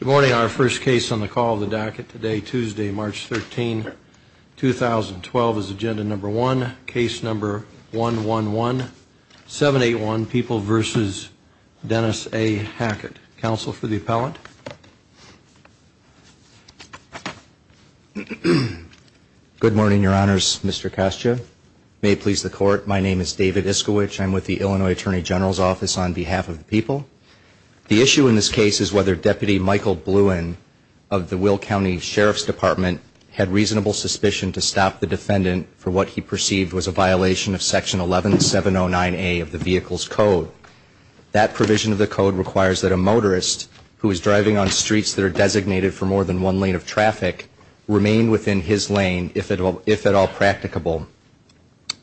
Good morning. Our first case on the call of the docket today, Tuesday, March 13, 2012, is agenda number one, case number 111781, People v. Dennis A. Hackett. Counsel for the appellant? Good morning, Your Honors. Mr. Castio. May it please the Court, my name is David Iskovic. I'm with the Illinois Attorney General's office on behalf of the people. The issue in this case is whether Deputy Michael Bluin of the Will County Sheriff's Department had reasonable suspicion to stop the defendant for what he perceived was a violation of Section 11709A of the Vehicle's Code. That provision of the code requires that a motorist who is driving on streets that are designated for more than one lane of traffic remain within his lane if at all practicable.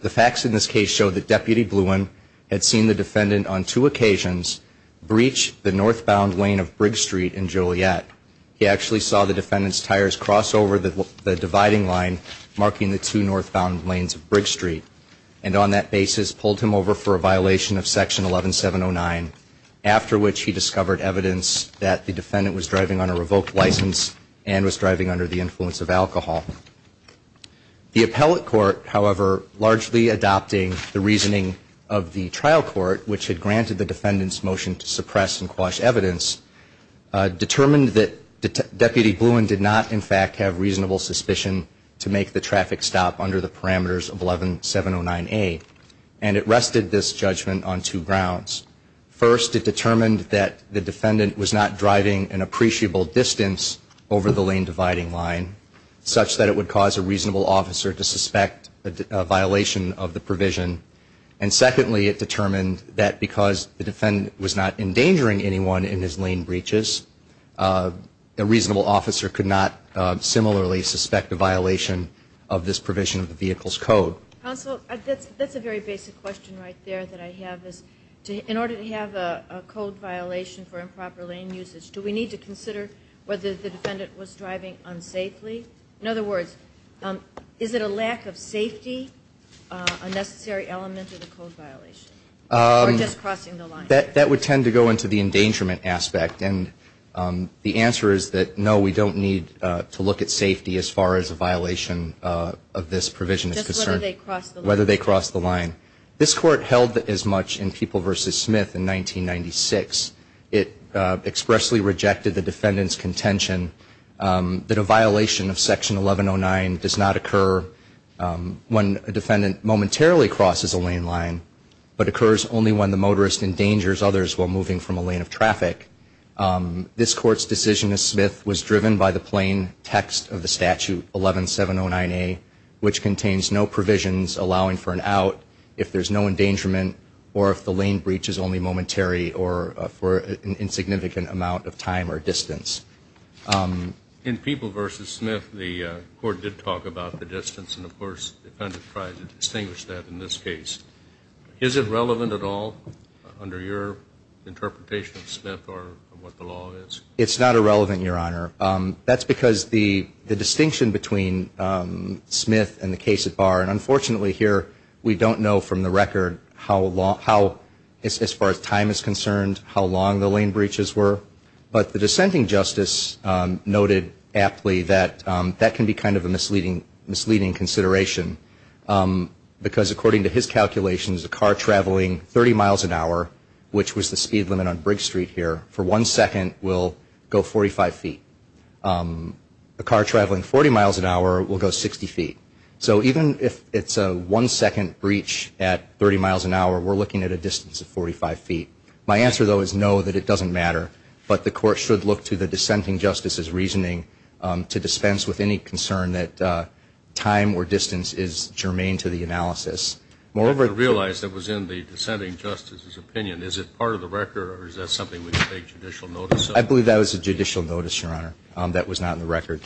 The facts in this case show that Deputy Bluin had seen the defendant on two occasions breach the northbound lane of Briggs Street in Joliet. He actually saw the defendant's tires cross over the dividing line marking the two northbound lanes of Briggs Street and on that basis pulled him over for a violation of Section 11709, after which he discovered evidence that the defendant was driving on a revoked license and was driving under the influence of alcohol. The appellate court, however, largely adopting the reasoning of the trial court, which had granted the defendant's motion to suppress and quash evidence, determined that Deputy Bluin did not in fact have reasonable suspicion to make the traffic stop under the parameters of 11709A and it rested this judgment on two grounds. First, it determined that the defendant was not driving an appreciable distance over the lane dividing line, such that it would cause a reasonable officer to suspect a violation of the provision. And secondly, it determined that because the defendant was not endangering anyone in his lane breaches, a reasonable officer could not similarly suspect a violation of this provision of the Vehicle's Code. Counsel, that's a very basic question right there that I have. In order to have a code violation for improper lane usage, do we need to consider whether the defendant was driving unsafely? In other words, is it a lack of safety, a necessary element of the code violation, or just crossing the line? That would tend to go into the endangerment aspect. And the answer is that, no, we don't need to look at safety as far as a violation of this provision is concerned. Whether they cross the line. Whether they cross the line. This Court held as much in People v. Smith in 1996. It expressly rejected the defendant's contention that a violation of Section 1109 does not occur when a defendant momentarily crosses a lane line, but occurs only when the motorist endangers others while moving from a lane of traffic. This Court's decision as Smith was driven by the plain text of the statute 11709A, which contains no provisions allowing for an out if there's no endangerment, or if the lane breach is only momentary or for an insignificant amount of time or distance. In People v. Smith, the Court did talk about the distance, and, of course, the defendant tried to distinguish that in this case. Is it relevant at all under your interpretation of Smith or what the law is? It's not irrelevant, Your Honor. That's because the distinction between Smith and the case at bar, and unfortunately here we don't know from the record how long, as far as time is concerned, how long the lane breaches were. But the dissenting Justice noted aptly that that can be kind of a misleading consideration. Because according to his calculations, a car traveling 30 miles an hour, which was the speed limit on Briggs Street here, for one second will go 45 feet. A car traveling 40 miles an hour will go 60 feet. So even if it's a one-second breach at 30 miles an hour, we're looking at a distance of 45 feet. My answer, though, is no, that it doesn't matter. But the Court should look to the dissenting Justice's reasoning to dispense with any concern that time or distance is germane to the analysis. I realize that was in the dissenting Justice's opinion. Is it part of the record, or is that something we can take judicial notice of? I believe that was a judicial notice, Your Honor, that was not in the record.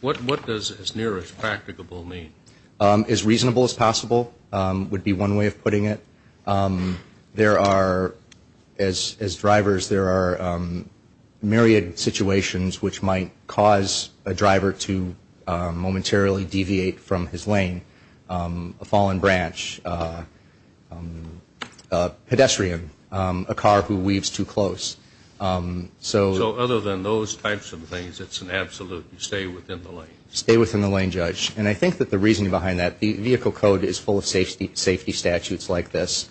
What does as near as practicable mean? As reasonable as possible would be one way of putting it. There are, as drivers, there are myriad situations which might cause a driver to momentarily deviate from his lane. A fallen branch, a pedestrian, a car who weaves too close. So other than those types of things, it's an absolute stay within the lane? Stay within the lane, Judge. And I think that the reasoning behind that, the vehicle code is full of safety statutes like this.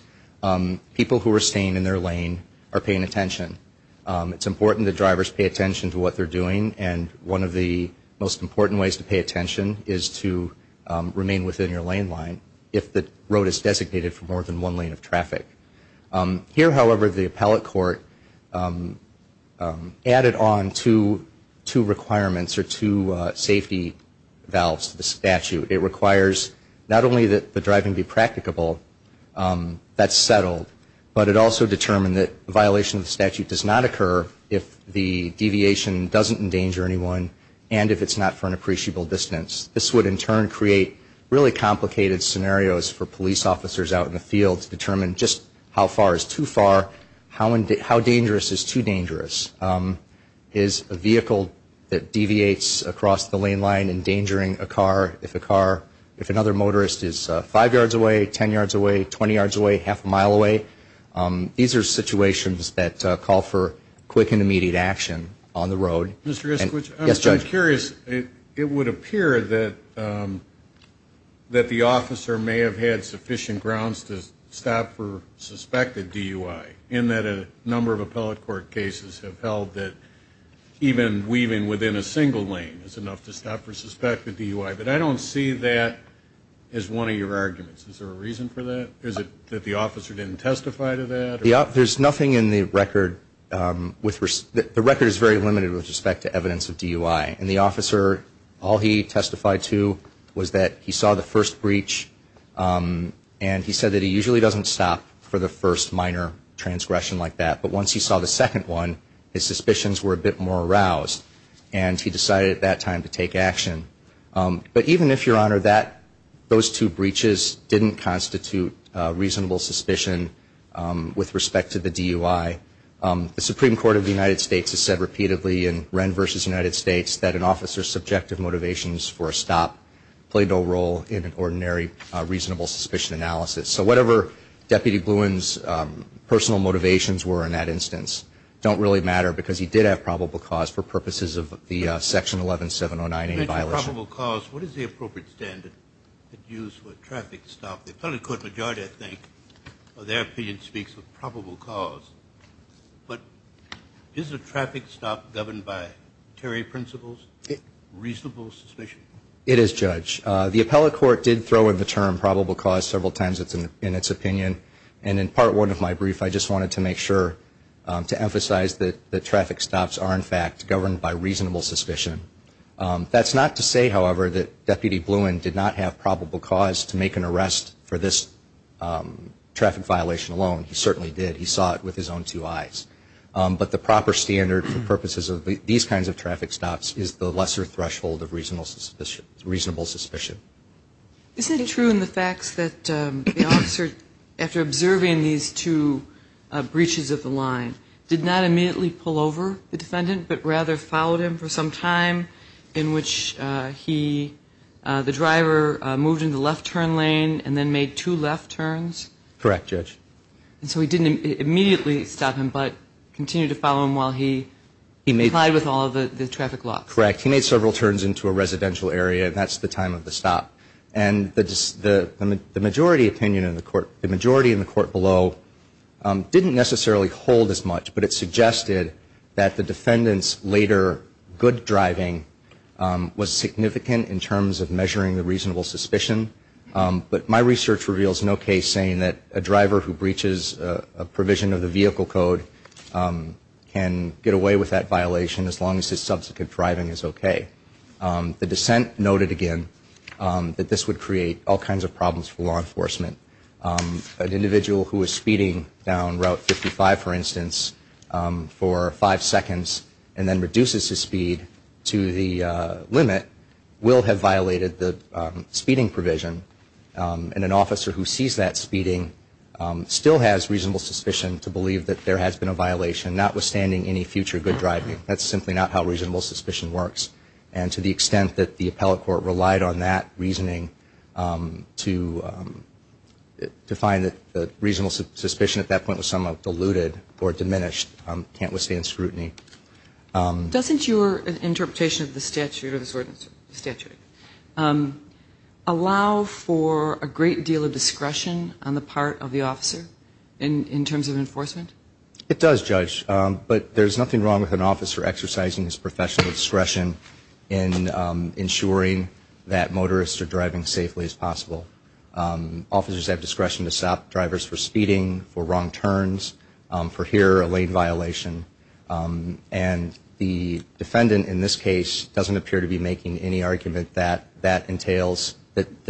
People who are staying in their lane are paying attention. It's important that drivers pay attention to what they're doing, and one of the most important ways to pay attention is to remain within your lane line if the road is designated for more than one lane of traffic. Here, however, the appellate court added on two requirements or two safety valves to the statute. It requires not only that the driving be practicable, that's settled, but it also determined that violation of the statute does not occur if the deviation doesn't endanger anyone and if it's not for an appreciable distance. This would in turn create really complicated scenarios for police officers out in the field to determine just how far is too far, how dangerous is too dangerous. Is a vehicle that deviates across the lane line endangering a car? If a car, if another motorist is 5 yards away, 10 yards away, 20 yards away, half a mile away, these are situations that call for quick and immediate action on the road. Mr. Iskwich, I'm curious. It would appear that the officer may have had sufficient grounds to stop for suspected DUI in that a number of appellate court cases have held that even weaving within a single lane is enough to stop for suspected DUI, but I don't see that as one of your arguments. Is there a reason for that? Is it that the officer didn't testify to that? There's nothing in the record. The record is very limited with respect to evidence of DUI. And the officer, all he testified to was that he saw the first breach and he said that he usually doesn't stop for the first minor transgression like that. But once he saw the second one, his suspicions were a bit more aroused and he decided at that time to take action. But even if, Your Honor, those two breaches didn't constitute reasonable suspicion with respect to the DUI, the Supreme Court of the United States has said repeatedly in Wren v. United States that an officer's subjective motivations for a stop played no role in an ordinary reasonable suspicion analysis. So whatever Deputy Bluin's personal motivations were in that instance don't really matter because he did have probable cause for purposes of the Section 11709A violation. Speaking of probable cause, what is the appropriate standard used for a traffic stop? The appellate court majority, I think, or their opinion speaks of probable cause. But is a traffic stop governed by Terry principles reasonable suspicion? It is, Judge. The appellate court did throw in the term probable cause several times in its opinion. And in Part 1 of my brief, I just wanted to make sure to emphasize that traffic stops are in fact governed by reasonable suspicion. That's not to say, however, that Deputy Bluin did not have probable cause to make an arrest for this traffic violation alone. He certainly did. He saw it with his own two eyes. But the proper standard for purposes of these kinds of traffic stops is the lesser threshold of reasonable suspicion. Isn't it true in the facts that the officer, after observing these two breaches of the line, did not immediately pull over the defendant, but rather followed him for some time in which he, the driver, moved in the left turn lane and then made two left turns? Correct, Judge. And so he didn't immediately stop him, but continued to follow him while he complied with all of the traffic laws? Correct. He made several turns into a residential area. That's the time of the stop. And the majority opinion in the court below didn't necessarily hold as much, but it suggested that the defendant's later good driving was significant in terms of measuring the reasonable suspicion. But my research reveals no case saying that a driver who breaches a provision of the vehicle code can get away with that violation as long as his subsequent driving is okay. The dissent noted again that this would create all kinds of problems for law enforcement. An individual who is speeding down Route 55, for instance, for five seconds and then reduces his speed to the limit will have violated the speeding provision. And an officer who sees that speeding still has reasonable suspicion to believe that there has been a violation, notwithstanding any future good driving. That's simply not how reasonable suspicion works. And to the extent that the appellate court relied on that reasoning to find that reasonable suspicion at that point was somewhat diluted or diminished, can't withstand scrutiny. Doesn't your interpretation of the statute allow for a great deal of discretion on the part of the officer in terms of enforcement? It does, Judge. But there's nothing wrong with an officer exercising his professional discretion in ensuring that motorists are driving as safely as possible. Officers have discretion to stop drivers for speeding, for wrong turns, for here, a lane violation. And the defendant in this case doesn't appear to be making any argument that that entails that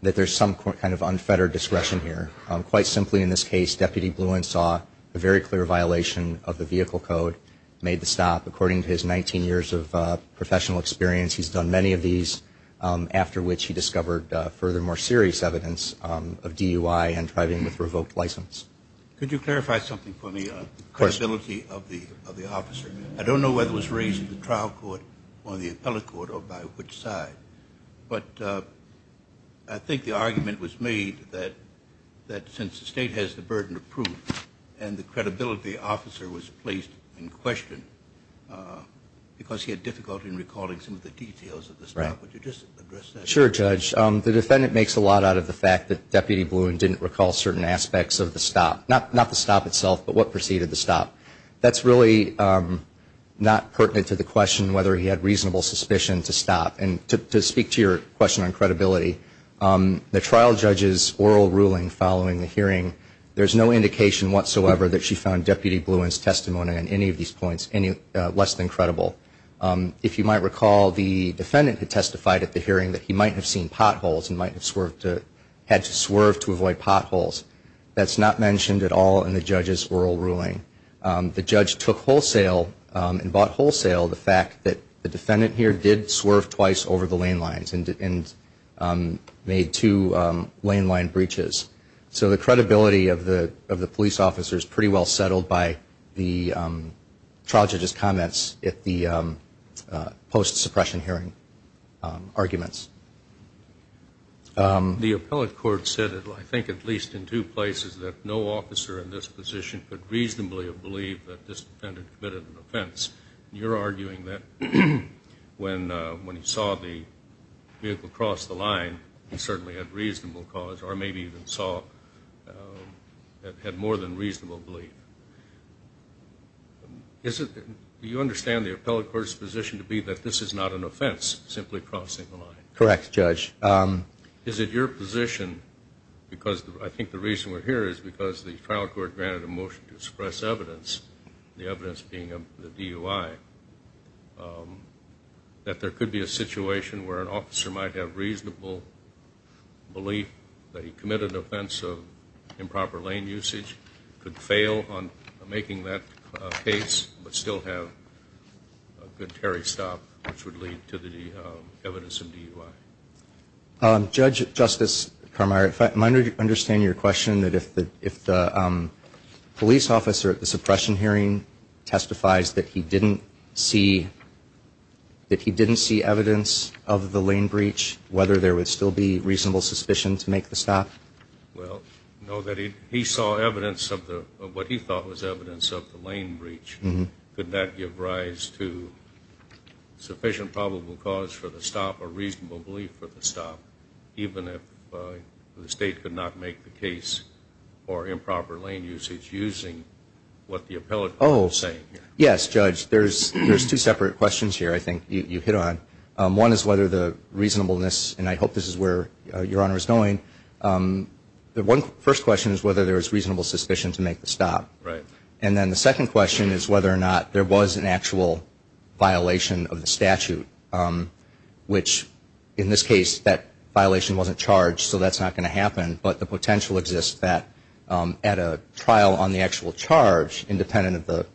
there's some kind of unfettered discretion here. Quite simply in this case, Deputy Bluensaw, a very clear violation of the vehicle code, made the stop. According to his 19 years of professional experience, he's done many of these, after which he discovered further more serious evidence of DUI and driving with revoked license. Could you clarify something for me on the credibility of the officer? I don't know whether it was raised in the trial court or the appellate court or by which side. But I think the argument was made that since the state has the burden of proof and the credibility officer was placed in question because he had difficulty in recalling some of the details of the stop. Would you just address that? Sure, Judge. The defendant makes a lot out of the fact that Deputy Bluen didn't recall certain aspects of the stop. Not the stop itself, but what preceded the stop. That's really not pertinent to the question whether he had reasonable suspicion to stop. And to speak to your question on credibility, the trial judge's oral ruling following the hearing, there's no indication whatsoever that she found Deputy Bluen's testimony on any of these points less than credible. If you might recall, the defendant had testified at the hearing that he might have seen potholes and might have had to swerve to avoid potholes. That's not mentioned at all in the judge's oral ruling. The judge took wholesale and bought wholesale the fact that the defendant here did swerve twice over the lane lines and made two lane line breaches. So the credibility of the police officer is pretty well settled by the trial judge's comments at the post-suppression hearing arguments. The appellate court said, I think at least in two places, that no officer in this position could reasonably have believed that this defendant committed an offense. You're arguing that when he saw the vehicle cross the line, he certainly had reasonable cause or maybe even saw it had more than reasonable belief. Do you understand the appellate court's position to be that this is not an offense, simply crossing the line? Correct, Judge. Is it your position, because I think the reason we're here is because the trial court granted a motion to express evidence, the evidence being the DUI, that there could be a situation where an officer might have reasonable belief that he committed an offense of improper lane usage, could fail on making that case, but still have a good tarry stop, which would lead to the evidence of DUI. Judge, Justice Carmire, if I understand your question, that if the police officer at the suppression hearing testifies that he didn't see evidence of the lane breach, whether there would still be reasonable suspicion to make the stop? Well, no. He saw evidence of what he thought was evidence of the lane breach. Could that give rise to sufficient probable cause for the stop or reasonable belief for the stop, even if the State could not make the case for improper lane usage using what the appellate court is saying? Yes, Judge. There's two separate questions here I think you hit on. One is whether the reasonableness, and I hope this is where Your Honor is going, the first question is whether there is reasonable suspicion to make the stop. Right. And then the second question is whether or not there was an actual violation of the statute, which in this case that violation wasn't charged, so that's not going to happen, but the potential exists that at a trial on the actual charge, independent of the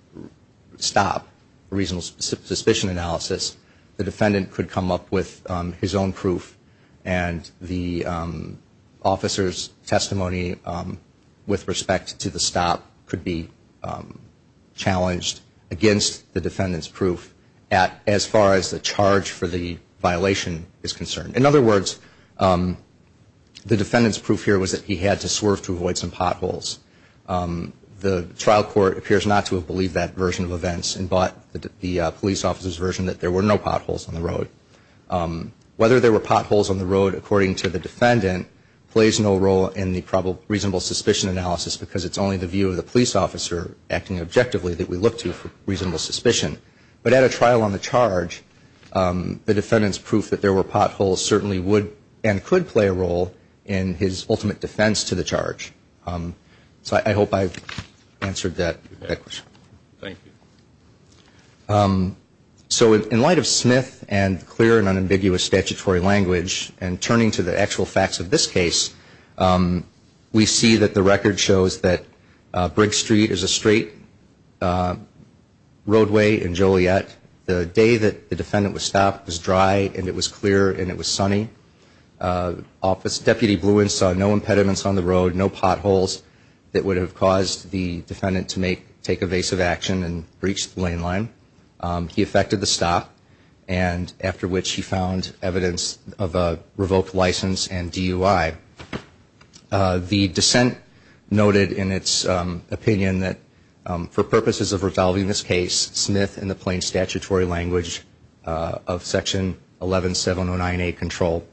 stop, a reasonable suspicion analysis, the defendant could come up with his own proof and the officer's testimony with respect to the stop could be challenged against the defendant's proof as far as the charge for the violation is concerned. In other words, the defendant's proof here was that he had to swerve to avoid some potholes. The trial court appears not to have believed that version of events and bought the police officer's version that there were no potholes on the road. Whether there were potholes on the road, according to the defendant, plays no role in the reasonable suspicion analysis because it's only the view of the police officer acting objectively that we look to for reasonable suspicion. But at a trial on the charge, the defendant's proof that there were potholes certainly would and could play a role in his ultimate defense to the charge. So I hope I've answered that question. Thank you. So in light of Smith and clear and unambiguous statutory language and turning to the actual facts of this case, we see that the record shows that Briggs Street is a straight roadway in Joliet. The day that the defendant was stopped was dry and it was clear and it was sunny. Deputy Bluin saw no impediments on the road, no potholes that would have caused the defendant to take evasive action and breach the lane line. He effected the stop and after which he found evidence of a revoked license and DUI. The dissent noted in its opinion that for purposes of resolving this case, Smith in the plain statutory language of section 11709A control,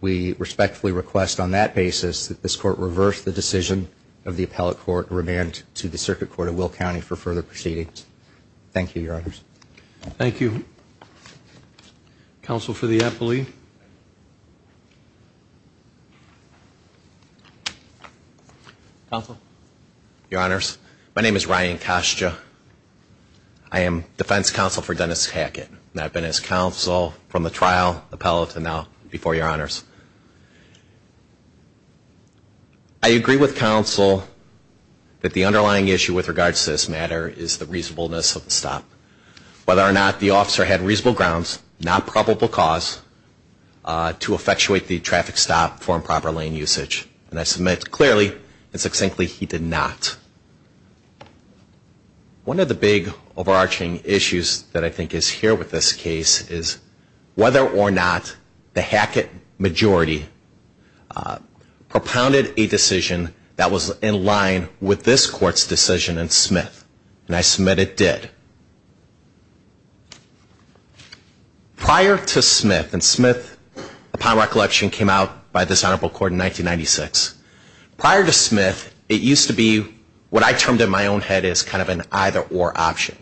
we respectfully request on that basis that this court reverse the decision of the appellate court and remand to the circuit court of Will County for further proceedings. Thank you, Your Honors. Thank you. Counsel for the appellee. Counsel. Your Honors, my name is Ryan Kostia. I am defense counsel for Dennis Hackett and I've been his counsel from the trial appellate to now before Your Honors. I agree with counsel that the underlying issue with regards to this matter is the reasonableness of the stop. Whether or not the officer had reasonable grounds, not probable cause, to effectuate the traffic stop for improper lane usage. And I submit clearly and succinctly he did not. One of the big overarching issues that I think is here with this case is whether or not the Hackett majority propounded a decision that was in line with this court's decision in Smith. And I submit it did. Prior to Smith, and Smith upon recollection came out by this honorable court in 1996. Prior to Smith, it used to be what I termed in my own head as kind of an either or option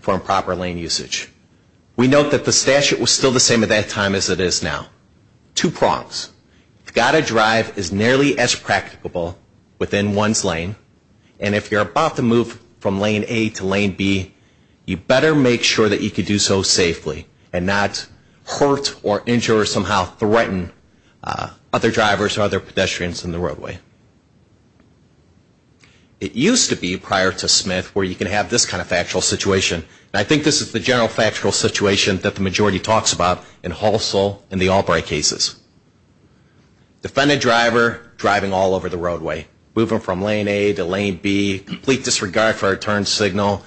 for improper lane usage. We note that the statute was still the same at that time as it is now. Two prongs. You've got to drive as nearly as practicable within one's lane. And if you're about to move from lane A to lane B, you better make sure that you can do so safely and not hurt or injure or somehow threaten other drivers or other pedestrians in the roadway. It used to be prior to Smith where you can have this kind of factual situation. And I think this is the general factual situation that the majority talks about in Halsell and the Albright cases. Defendant driver driving all over the roadway. Moving from lane A to lane B. Complete disregard for a turn signal.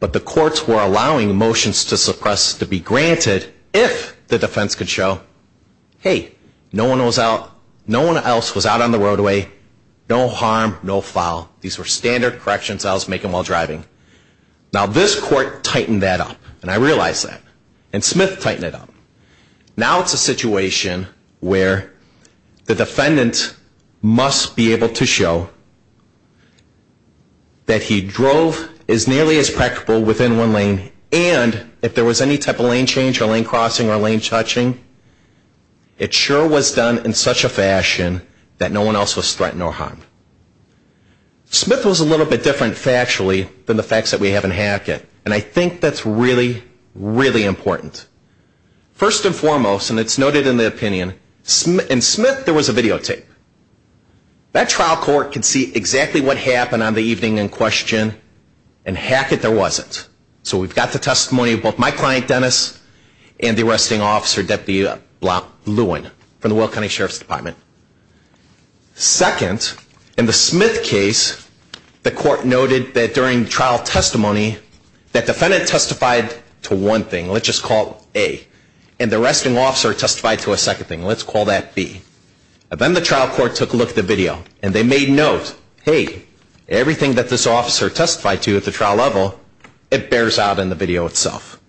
But the courts were allowing motions to suppress to be granted if the defense could show, hey, no one else was out on the roadway. No harm, no foul. These were standard corrections I was making while driving. Now this court tightened that up. And I realize that. And Smith tightened it up. Now it's a situation where the defendant must be able to show that he drove as nearly as practicable within one lane and if there was any type of lane change or lane crossing or lane touching, it sure was done in such a fashion that no one else was threatened or harmed. Smith was a little bit different factually than the facts that we have in Hackett. And I think that's really, really important. First and foremost, and it's noted in the opinion, in Smith there was a videotape. That trial court could see exactly what happened on the evening in question. In Hackett there wasn't. So we've got the testimony of both my client, Dennis, and the arresting officer, Deputy Blount Lewin, from the Will County Sheriff's Department. Second, in the Smith case, the court noted that during trial testimony, that defendant testified to one thing. Let's just call A. And the arresting officer testified to a second thing. Let's call that B. And then the trial court took a look at the video. And they made note, hey, everything that this officer testified to at the trial level, it bears out in the video itself.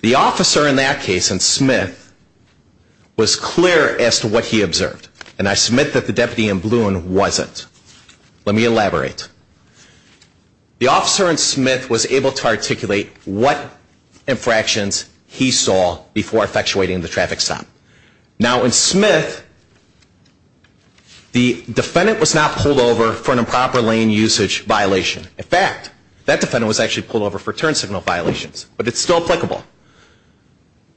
The officer in that case, in Smith, was clear as to what he observed. And I submit that the deputy in Lewin wasn't. Let me elaborate. The officer in Smith was able to articulate what infractions he saw before effectuating the traffic stop. Now, in Smith, the defendant was not pulled over for an improper lane usage violation. In fact, that defendant was actually pulled over for turn signal violations. But it's still applicable.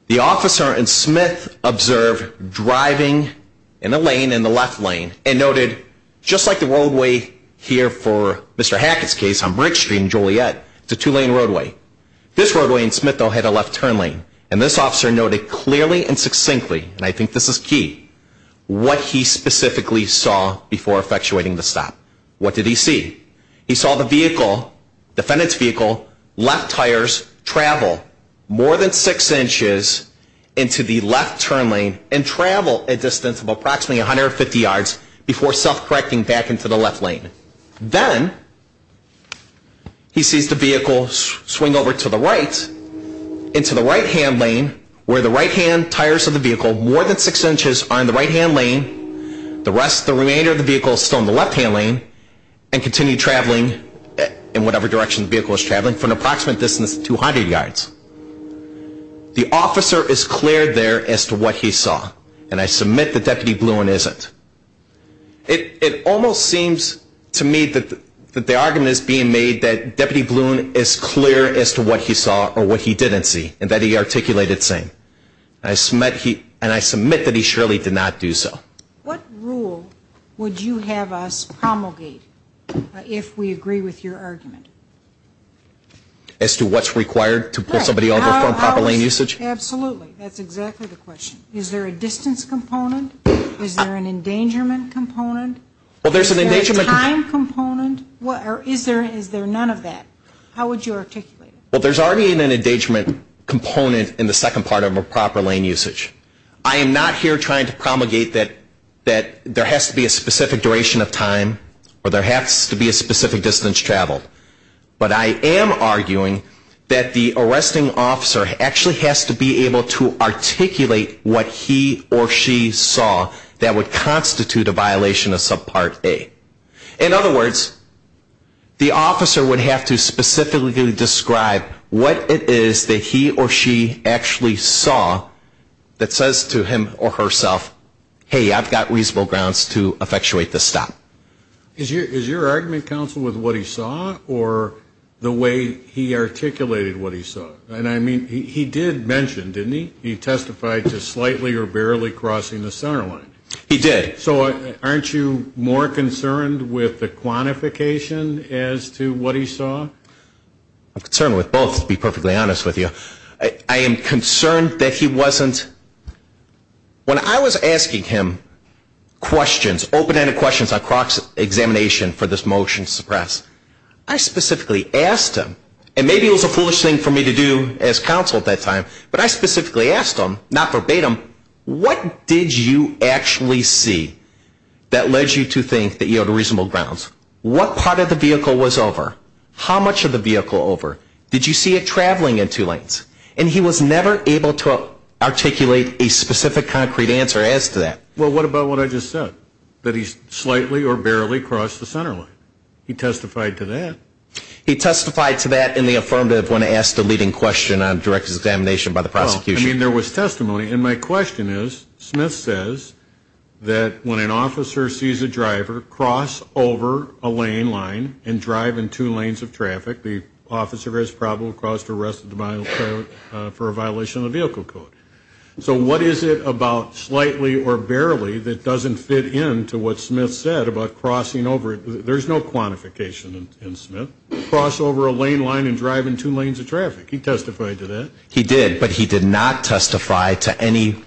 The officer in Smith observed driving in a lane, in the left lane, and noted, just like the roadway here for Mr. Hackett's case on Bridge Street and Joliet, it's a two-lane roadway. This roadway in Smith, though, had a left turn lane. And this officer noted clearly and succinctly, and I think this is key, what he specifically saw before effectuating the stop. What did he see? He saw the vehicle, defendant's vehicle, left tires, travel more than six inches into the left turn lane and travel a distance of approximately 150 yards before self-correcting back into the left lane. Then he sees the vehicle swing over to the right, into the right-hand lane, where the right-hand tires of the vehicle, more than six inches, are in the right-hand lane. The rest, the remainder of the vehicle, is still in the left-hand lane and continue traveling in whatever direction the vehicle is traveling for an approximate distance of 200 yards. The officer is clear there as to what he saw, and I submit that Deputy Bluhin isn't. It almost seems to me that the argument is being made that Deputy Bluhin is clear as to what he saw or what he didn't see, and that he articulated the same. And I submit that he surely did not do so. What rule would you have us promulgate if we agree with your argument? As to what's required to pull somebody over for improper lane usage? Absolutely, that's exactly the question. Is there a distance component? Is there an endangerment component? Is there a time component? Or is there none of that? How would you articulate it? Well, there's already an endangerment component in the second part of improper lane usage. I am not here trying to promulgate that there has to be a specific duration of time or there has to be a specific distance traveled. But I am arguing that the arresting officer actually has to be able to articulate what he or she saw that would constitute a violation of subpart A. In other words, the officer would have to specifically describe what it is that he or she actually saw that says to him or herself, hey, I've got reasonable grounds to effectuate this stop. Is your argument, counsel, with what he saw or the way he articulated what he saw? And I mean, he did mention, didn't he, he testified to slightly or barely crossing the center line. He did. So aren't you more concerned with the quantification as to what he saw? I'm concerned with both, to be perfectly honest with you. I am concerned that he wasn't. When I was asking him questions, open-ended questions on Croc's examination for this motion to suppress, I specifically asked him, and maybe it was a foolish thing for me to do as counsel at that time, but I specifically asked him, not verbatim, what did you actually see that led you to think that you had reasonable grounds? What part of the vehicle was over? How much of the vehicle over? Did you see it traveling in two lanes? And he was never able to articulate a specific concrete answer as to that. Well, what about what I just said, that he slightly or barely crossed the center line? He testified to that. He testified to that in the affirmative when asked a leading question on director's examination by the prosecution. Well, I mean, there was testimony, and my question is, Smith says that when an officer sees a driver cross over a lane line and drive in two lanes of traffic, the officer has probable cause to arrest the driver for a violation of the vehicle code. So what is it about slightly or barely that doesn't fit in to what Smith said about crossing over? There's no quantification in Smith. Cross over a lane line and drive in two lanes of traffic. He testified to that. He did, but he did not testify to any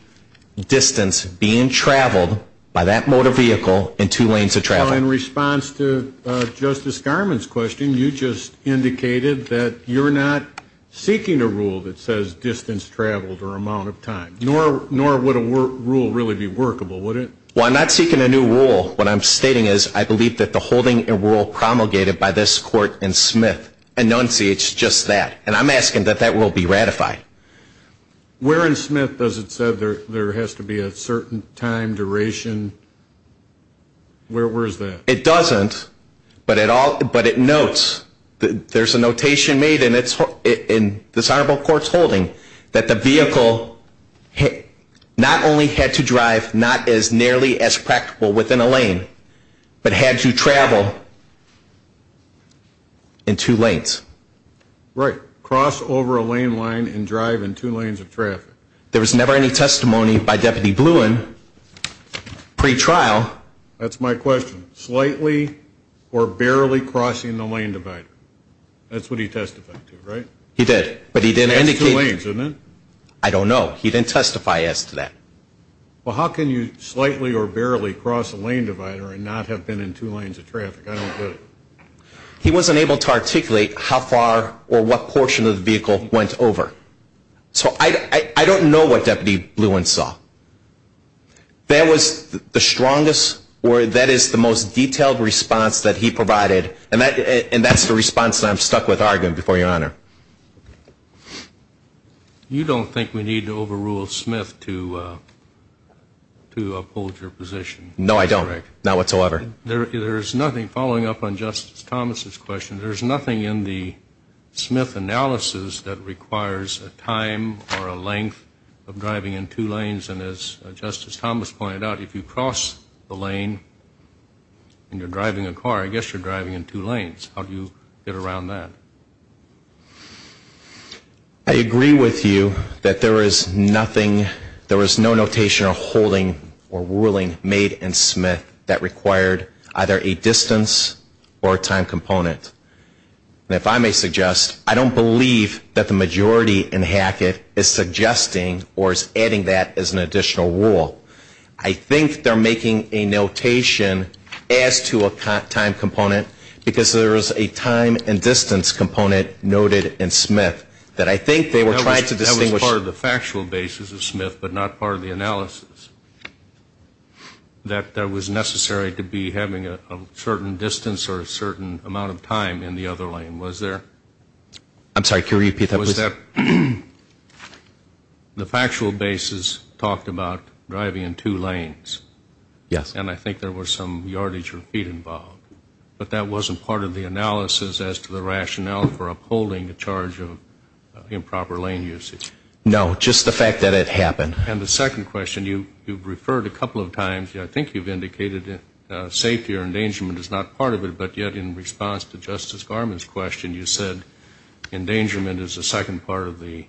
distance being traveled by that motor vehicle in two lanes of traffic. Well, in response to Justice Garmon's question, you just indicated that you're not seeking a rule that says distance traveled or amount of time, nor would a rule really be workable, would it? Well, I'm not seeking a new rule. What I'm stating is I believe that the holding and rule promulgated by this court in Smith enunciates just that, and I'm asking that that will be ratified. Where in Smith does it say there has to be a certain time, duration? Where is that? It doesn't, but it notes, there's a notation made in this honorable court's holding that the vehicle not only had to drive not as nearly as practical within a lane, but had to travel in two lanes. Right. Cross over a lane line and drive in two lanes of traffic. There was never any testimony by Deputy Bluin pre-trial. That's my question. Slightly or barely crossing the lane divider. That's what he testified to, right? He did, but he didn't indicate. That's two lanes, isn't it? I don't know. He didn't testify as to that. Well, how can you slightly or barely cross a lane divider and not have been in two lanes of traffic? I don't get it. He wasn't able to articulate how far or what portion of the vehicle went over. So I don't know what Deputy Bluin saw. That was the strongest, or that is the most detailed response that he provided, and that's the response that I'm stuck with arguing before Your Honor. You don't think we need to overrule Smith to uphold your position? No, I don't. Not whatsoever. There is nothing, following up on Justice Thomas' question, there is nothing in the Smith analysis that requires a time or a length of driving in two lanes, and as Justice Thomas pointed out, if you cross the lane and you're driving a car, I guess you're driving in two lanes. How do you get around that? I agree with you that there is nothing, there is no notation or holding or ruling made in Smith that required either a distance or a time component. And if I may suggest, I don't believe that the majority in Hackett is suggesting or is adding that as an additional rule. I think they're making a notation as to a time component because there is a time and distance component noted in Smith that I think they were trying to distinguish. That was part of the factual basis of Smith but not part of the analysis, that there was necessary to be having a certain distance or a certain amount of time in the other lane, was there? I'm sorry, can you repeat that, please? Was that the factual basis talked about driving in two lanes? Yes. And I think there was some yardage or feet involved. But that wasn't part of the analysis as to the rationale for upholding the charge of improper lane usage? No, just the fact that it happened. And the second question, you've referred a couple of times, I think you've indicated that safety or endangerment is not part of it, but yet in response to Justice Garment's question, you said endangerment is a second part of the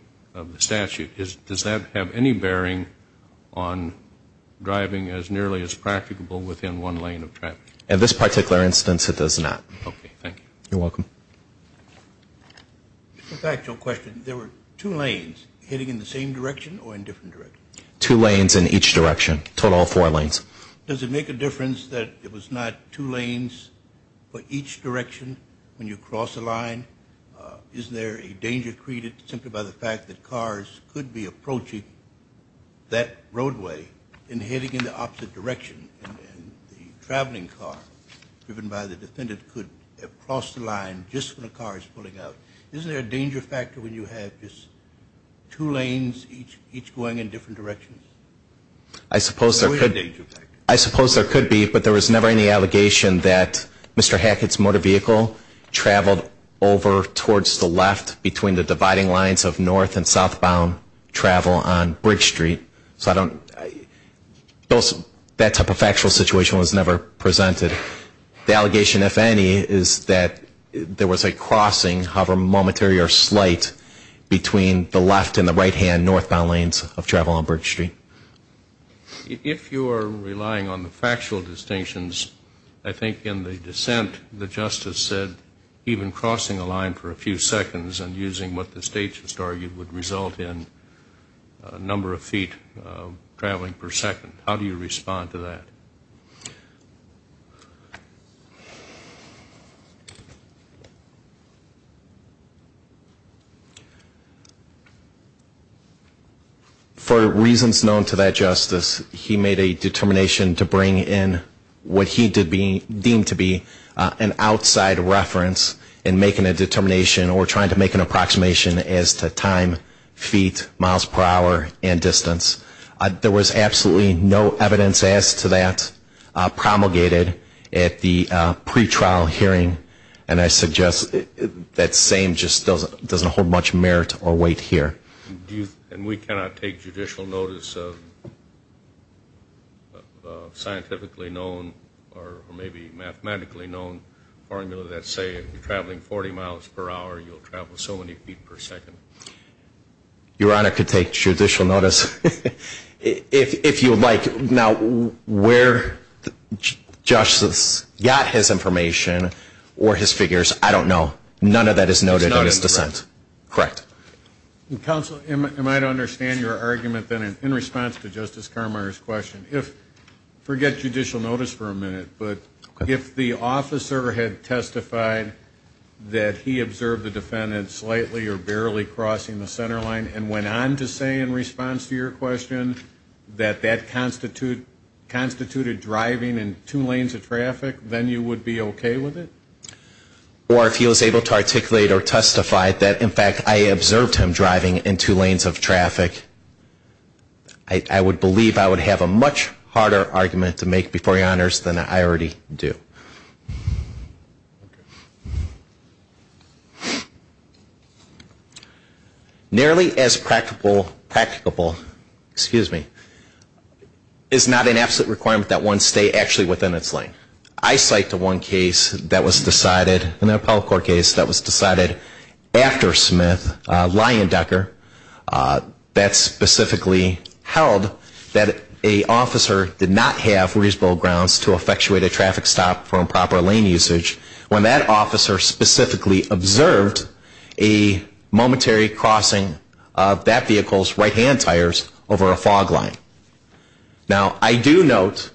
statute. Does that have any bearing on driving as nearly as practicable within one lane of traffic? In this particular instance, it does not. Okay, thank you. You're welcome. A factual question, there were two lanes hitting in the same direction or in different directions? Two lanes in each direction, a total of four lanes. Does it make a difference that it was not two lanes for each direction when you cross a line? Isn't there a danger created simply by the fact that cars could be approaching that roadway and hitting in the opposite direction and the traveling car driven by the defendant could have crossed the line just when a car is pulling out? Isn't there a danger factor when you have just two lanes each going in different directions? I suppose there could be, but there was never any allegation that Mr. Hackett's motor vehicle traveled over towards the left between the dividing lines of north and southbound travel on Bridge Street. That type of factual situation was never presented. The allegation, if any, is that there was a crossing, however momentary or slight, between the left and the right-hand northbound lanes of travel on Bridge Street. If you are relying on the factual distinctions, I think in the dissent, the justice said even crossing a line for a few seconds and using what the state just argued would result in a number of feet traveling per second. How do you respond to that? For reasons known to that justice, he made a determination to bring in what he deemed to be an outside reference in making a determination or trying to make an approximation as to time, feet, miles per hour, and distance. There was absolutely no evidence as to that promulgated at the pretrial hearing, and I suggest that same just doesn't hold much merit or weight here. And we cannot take judicial notice of scientifically known or maybe mathematically known formula that say if you're traveling 40 miles per hour, you'll travel so many feet per second. Your Honor could take judicial notice if you would like. Now, where justice got his information or his figures, I don't know. None of that is noted in his dissent. Correct. Counsel, am I to understand your argument then in response to Justice Carmier's question? Forget judicial notice for a minute, but if the officer had testified that he observed the defendant slightly or barely crossing the center line and went on to say in response to your question that that constituted driving in two lanes of traffic, then you would be okay with it? Or if he was able to articulate or testify that, in fact, I observed him driving in two lanes of traffic, I would believe I would have a much harder argument to make before your Honors than I already do. Nearly as practicable, excuse me, is not an absolute requirement that one stay actually within its lane. I cite the one case that was decided, an appellate court case that was decided after Smith, Leyendecker, that specifically held that an officer did not have reasonable grounds to effectuate a traffic stop for improper lane usage when that officer specifically observed a momentary crossing of that vehicle's right-hand tires over a fog line. Now, I do note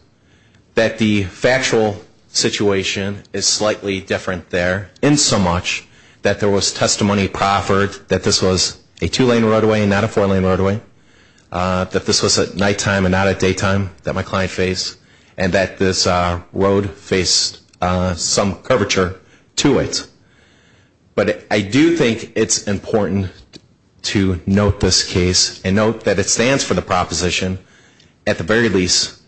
that the factual situation is slightly different there in so much that there was testimony proffered that this was a two-lane roadway and not a four-lane roadway, that this was at nighttime and not at daytime that my client faced, and that this road faced some curvature to it. But I do think it's important to note this case and note that it stands for the proposition, at the very least,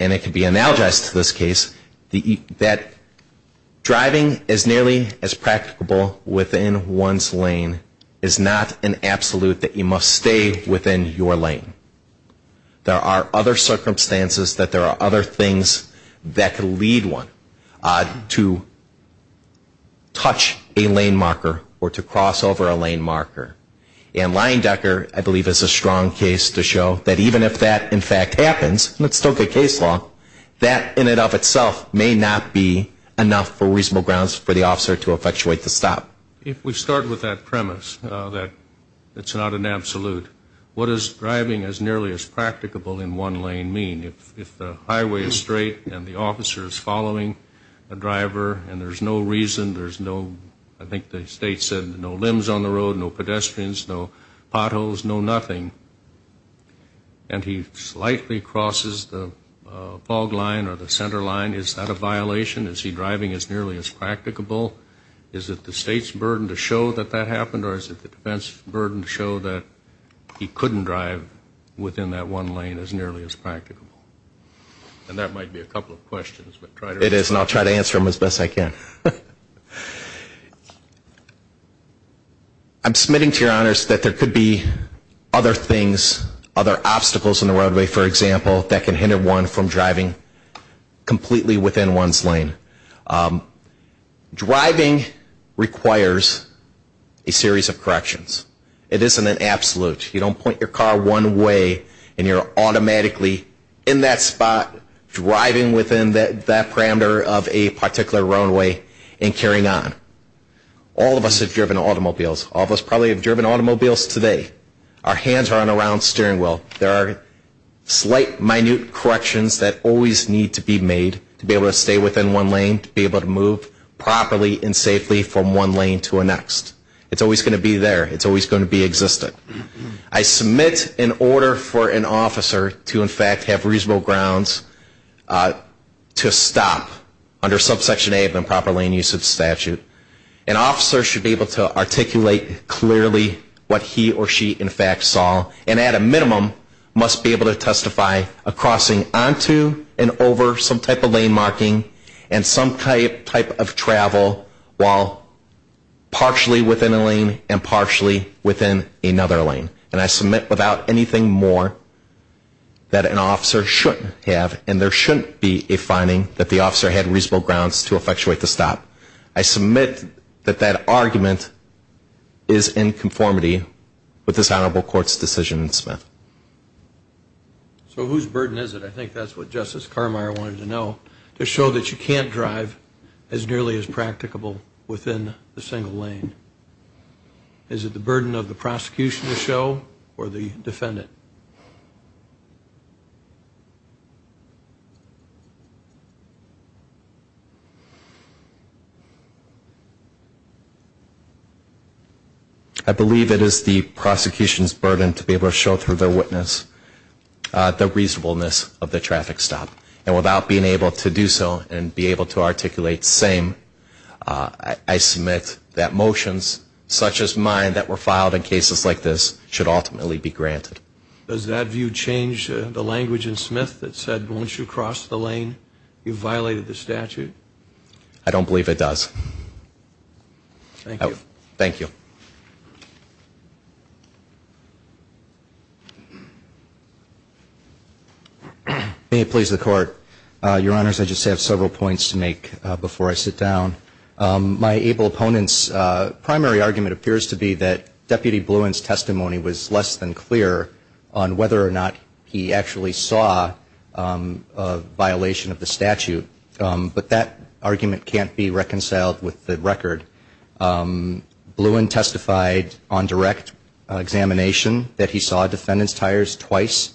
and it can be analogized to this case, that driving as nearly as practicable within one's lane is not an absolute that you must stay within your lane. There are other circumstances that there are other things that could lead one to touch a lane marker or to cross over a lane marker. And Leyendecker, I believe, is a strong case to show that even if that, in fact, happens, and it's still good case law, that in and of itself may not be enough for reasonable grounds for the officer to effectuate the stop. If we start with that premise that it's not an absolute, what does driving as nearly as practicable in one lane mean? If the highway is straight and the officer is following a driver and there's no reason, there's no, I think the state said, no limbs on the road, no pedestrians, no potholes, no nothing, and he slightly crosses the fog line or the center line, is that a violation? Is he driving as nearly as practicable? Is it the state's burden to show that that happened, or is it the defense's burden to show that he couldn't drive within that one lane as nearly as practicable? And that might be a couple of questions. It is, and I'll try to answer them as best I can. I'm submitting to your honors that there could be other things, other obstacles on the roadway, for example, that can hinder one from driving completely within one's lane. Driving requires a series of corrections. It isn't an absolute. You don't point your car one way and you're automatically in that spot, driving within that parameter of a particular roadway and carrying on. All of us have driven automobiles. All of us probably have driven automobiles today. Our hands aren't around the steering wheel. There are slight, minute corrections that always need to be made to be able to stay within one lane, to be able to move properly and safely from one lane to the next. It's always going to be there. It's always going to be existing. I submit in order for an officer to, in fact, have reasonable grounds to stop under subsection A of the improper lane usage statute, an officer should be able to articulate clearly what he or she, in fact, saw and, at a minimum, must be able to testify of crossing onto and over some type of lane marking and some type of travel while partially within a lane and partially within another lane. And I submit without anything more that an officer shouldn't have and there shouldn't be a finding that the officer had reasonable grounds to effectuate the stop. I submit that that argument is in conformity with this honorable court's decision in Smith. So whose burden is it? I think that's what Justice Carmeier wanted to know, to show that you can't drive as nearly as practicable within a single lane. Is it the burden of the prosecution to show or the defendant? I believe it is the prosecution's burden to be able to show through their witness the reasonableness of the traffic stop. And without being able to do so and be able to articulate same, I submit that motions such as mine that were filed in cases like this should ultimately be granted. Does that view change the language in Smith that said once you cross the lane you violated the statute? I don't believe it does. Thank you. Thank you. May it please the Court. Your Honors, I just have several points to make before I sit down. My able opponent's primary argument appears to be that Deputy Bluin's testimony was less than clear on whether or not he actually saw a violation of the statute. But that argument can't be reconciled with the record. Bluin testified on direct examination that he saw defendants' tires twice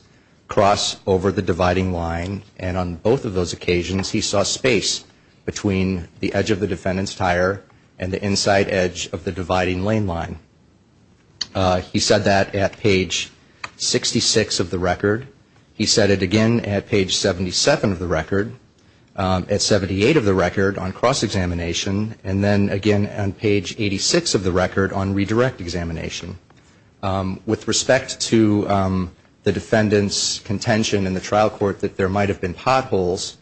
cross over the dividing line, and on both of those occasions he saw space between the edge of the defendant's tire and the inside edge of the dividing lane line. He said that at page 66 of the record. He said it again at page 77 of the record, at 78 of the record on cross examination, and then again on page 86 of the record on redirect examination. With respect to the defendant's contention in the trial court that there might have been potholes,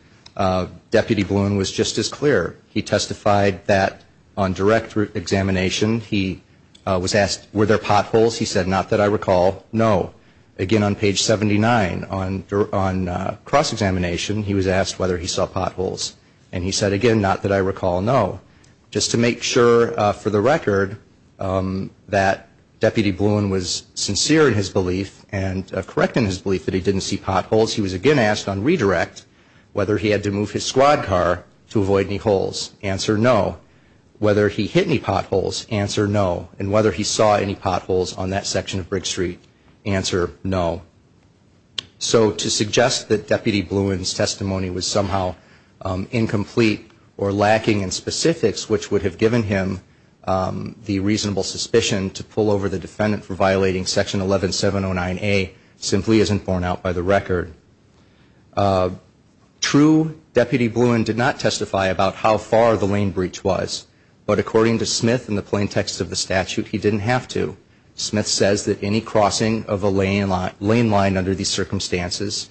Deputy Bluin was just as clear. He testified that on direct examination he was asked were there potholes. He said not that I recall, no. Again on page 79 on cross examination he was asked whether he saw potholes. And he said again not that I recall, no. Just to make sure for the record that Deputy Bluin was sincere in his belief and correct in his belief that he didn't see potholes, he was again asked on redirect whether he had to move his squad car to avoid any holes. Answer, no. Whether he hit any potholes. Answer, no. And whether he saw any potholes on that section of Brick Street. Answer, no. So to suggest that Deputy Bluin's testimony was somehow incomplete or lacking in specifics, which would have given him the reasonable suspicion to pull over the defendant for violating Section 11709A simply isn't borne out by the record. True, Deputy Bluin did not testify about how far the lane breach was. But according to Smith in the plain text of the statute, he didn't have to. Smith says that any crossing of a lane line under these circumstances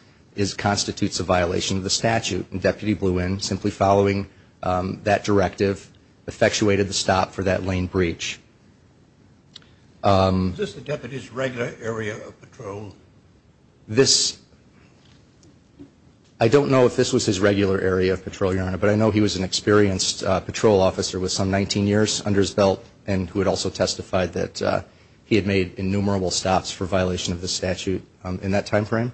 constitutes a violation of the statute. And Deputy Bluin simply following that directive effectuated the stop for that lane breach. Is this the deputy's regular area of patrol? I don't know if this was his regular area of patrol, Your Honor, but I know he was an experienced patrol officer with some 19 years under his belt and who had also testified that he had made innumerable stops for violation of the statute in that time frame.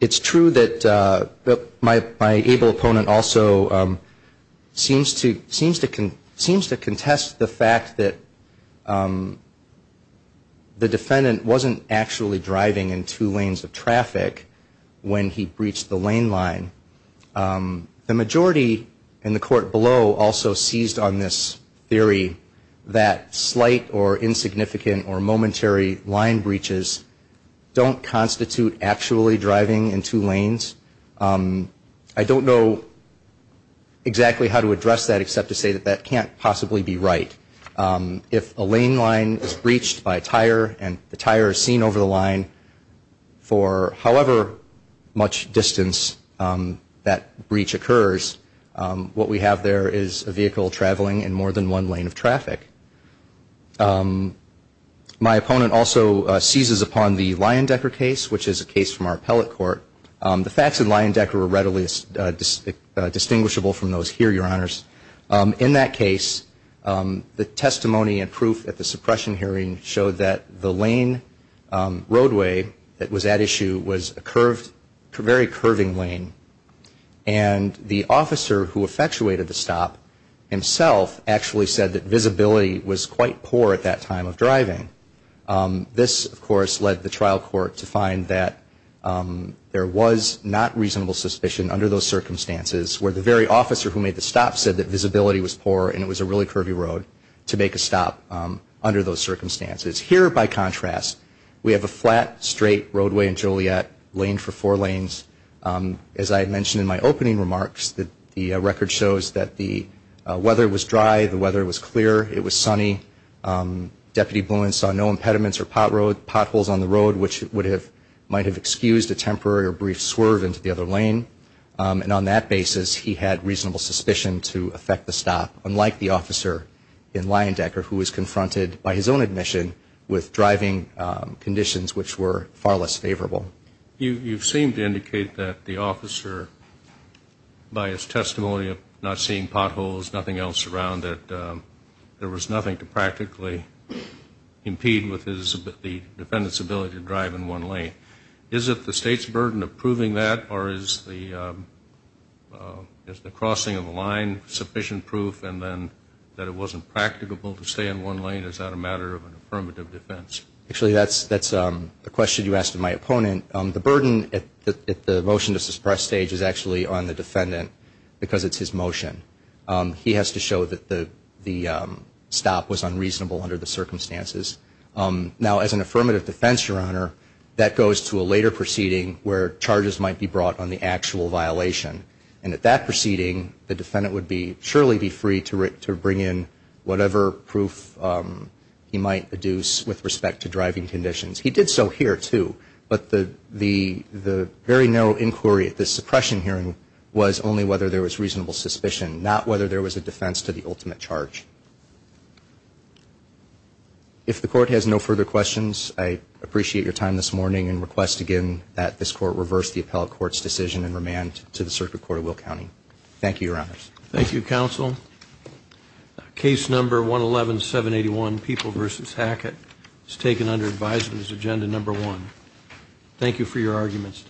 It's true that my able opponent also seems to contest the fact that the defendant wasn't actually driving in two lanes of traffic when he breached the lane line. The majority in the court below also seized on this theory that slight or insignificant or momentary line breaches don't constitute actually driving in two lanes. I don't know exactly how to address that except to say that that can't possibly be right. If a lane line is breached by a tire and the tire is seen over the line for however much distance, that breach occurs, what we have there is a vehicle traveling in more than one lane of traffic. My opponent also seizes upon the Leyendecker case, which is a case from our appellate court. The facts in Leyendecker are readily distinguishable from those here, Your Honors. In that case, the testimony and proof at the suppression hearing showed that the lane roadway that was at issue was a very curving lane and the officer who effectuated the stop himself actually said that visibility was quite poor at that time of driving. This, of course, led the trial court to find that there was not reasonable suspicion under those circumstances where the very officer who made the stop said that visibility was poor and it was a really curvy road to make a stop under those circumstances. Here, by contrast, we have a flat, straight roadway in Joliet, lane for four lanes. As I mentioned in my opening remarks, the record shows that the weather was dry. The weather was clear. It was sunny. Deputy Bowen saw no impediments or potholes on the road, which might have excused a temporary or brief swerve into the other lane. And on that basis, he had reasonable suspicion to effect the stop, unlike the officer in Leyendecker who was confronted by his own admission with driving conditions which were far less favorable. You seem to indicate that the officer, by his testimony of not seeing potholes, nothing else around it, there was nothing to practically impede with the defendant's ability to drive in one lane. Is it the State's burden of proving that, or is the crossing of the line sufficient proof and then that it wasn't practicable to stay in one lane? Is that a matter of an affirmative defense? Actually, that's a question you asked of my opponent. The burden at the motion to suppress stage is actually on the defendant because it's his motion. He has to show that the stop was unreasonable under the circumstances. Now, as an affirmative defense, Your Honor, that goes to a later proceeding where charges might be brought on the actual violation. And at that proceeding, the defendant would surely be free to bring in whatever proof he might adduce with respect to driving conditions. He did so here, too. But the very narrow inquiry at the suppression hearing was only whether there was reasonable suspicion, not whether there was a defense to the ultimate charge. If the Court has no further questions, I appreciate your time this morning and request again that this Court reverse the appellate court's decision and remand to the Circuit Court of Will County. Thank you, Your Honors. Thank you, Counsel. Case number 111781, People v. Hackett, is taken under advisement as agenda number one. Thank you for your arguments.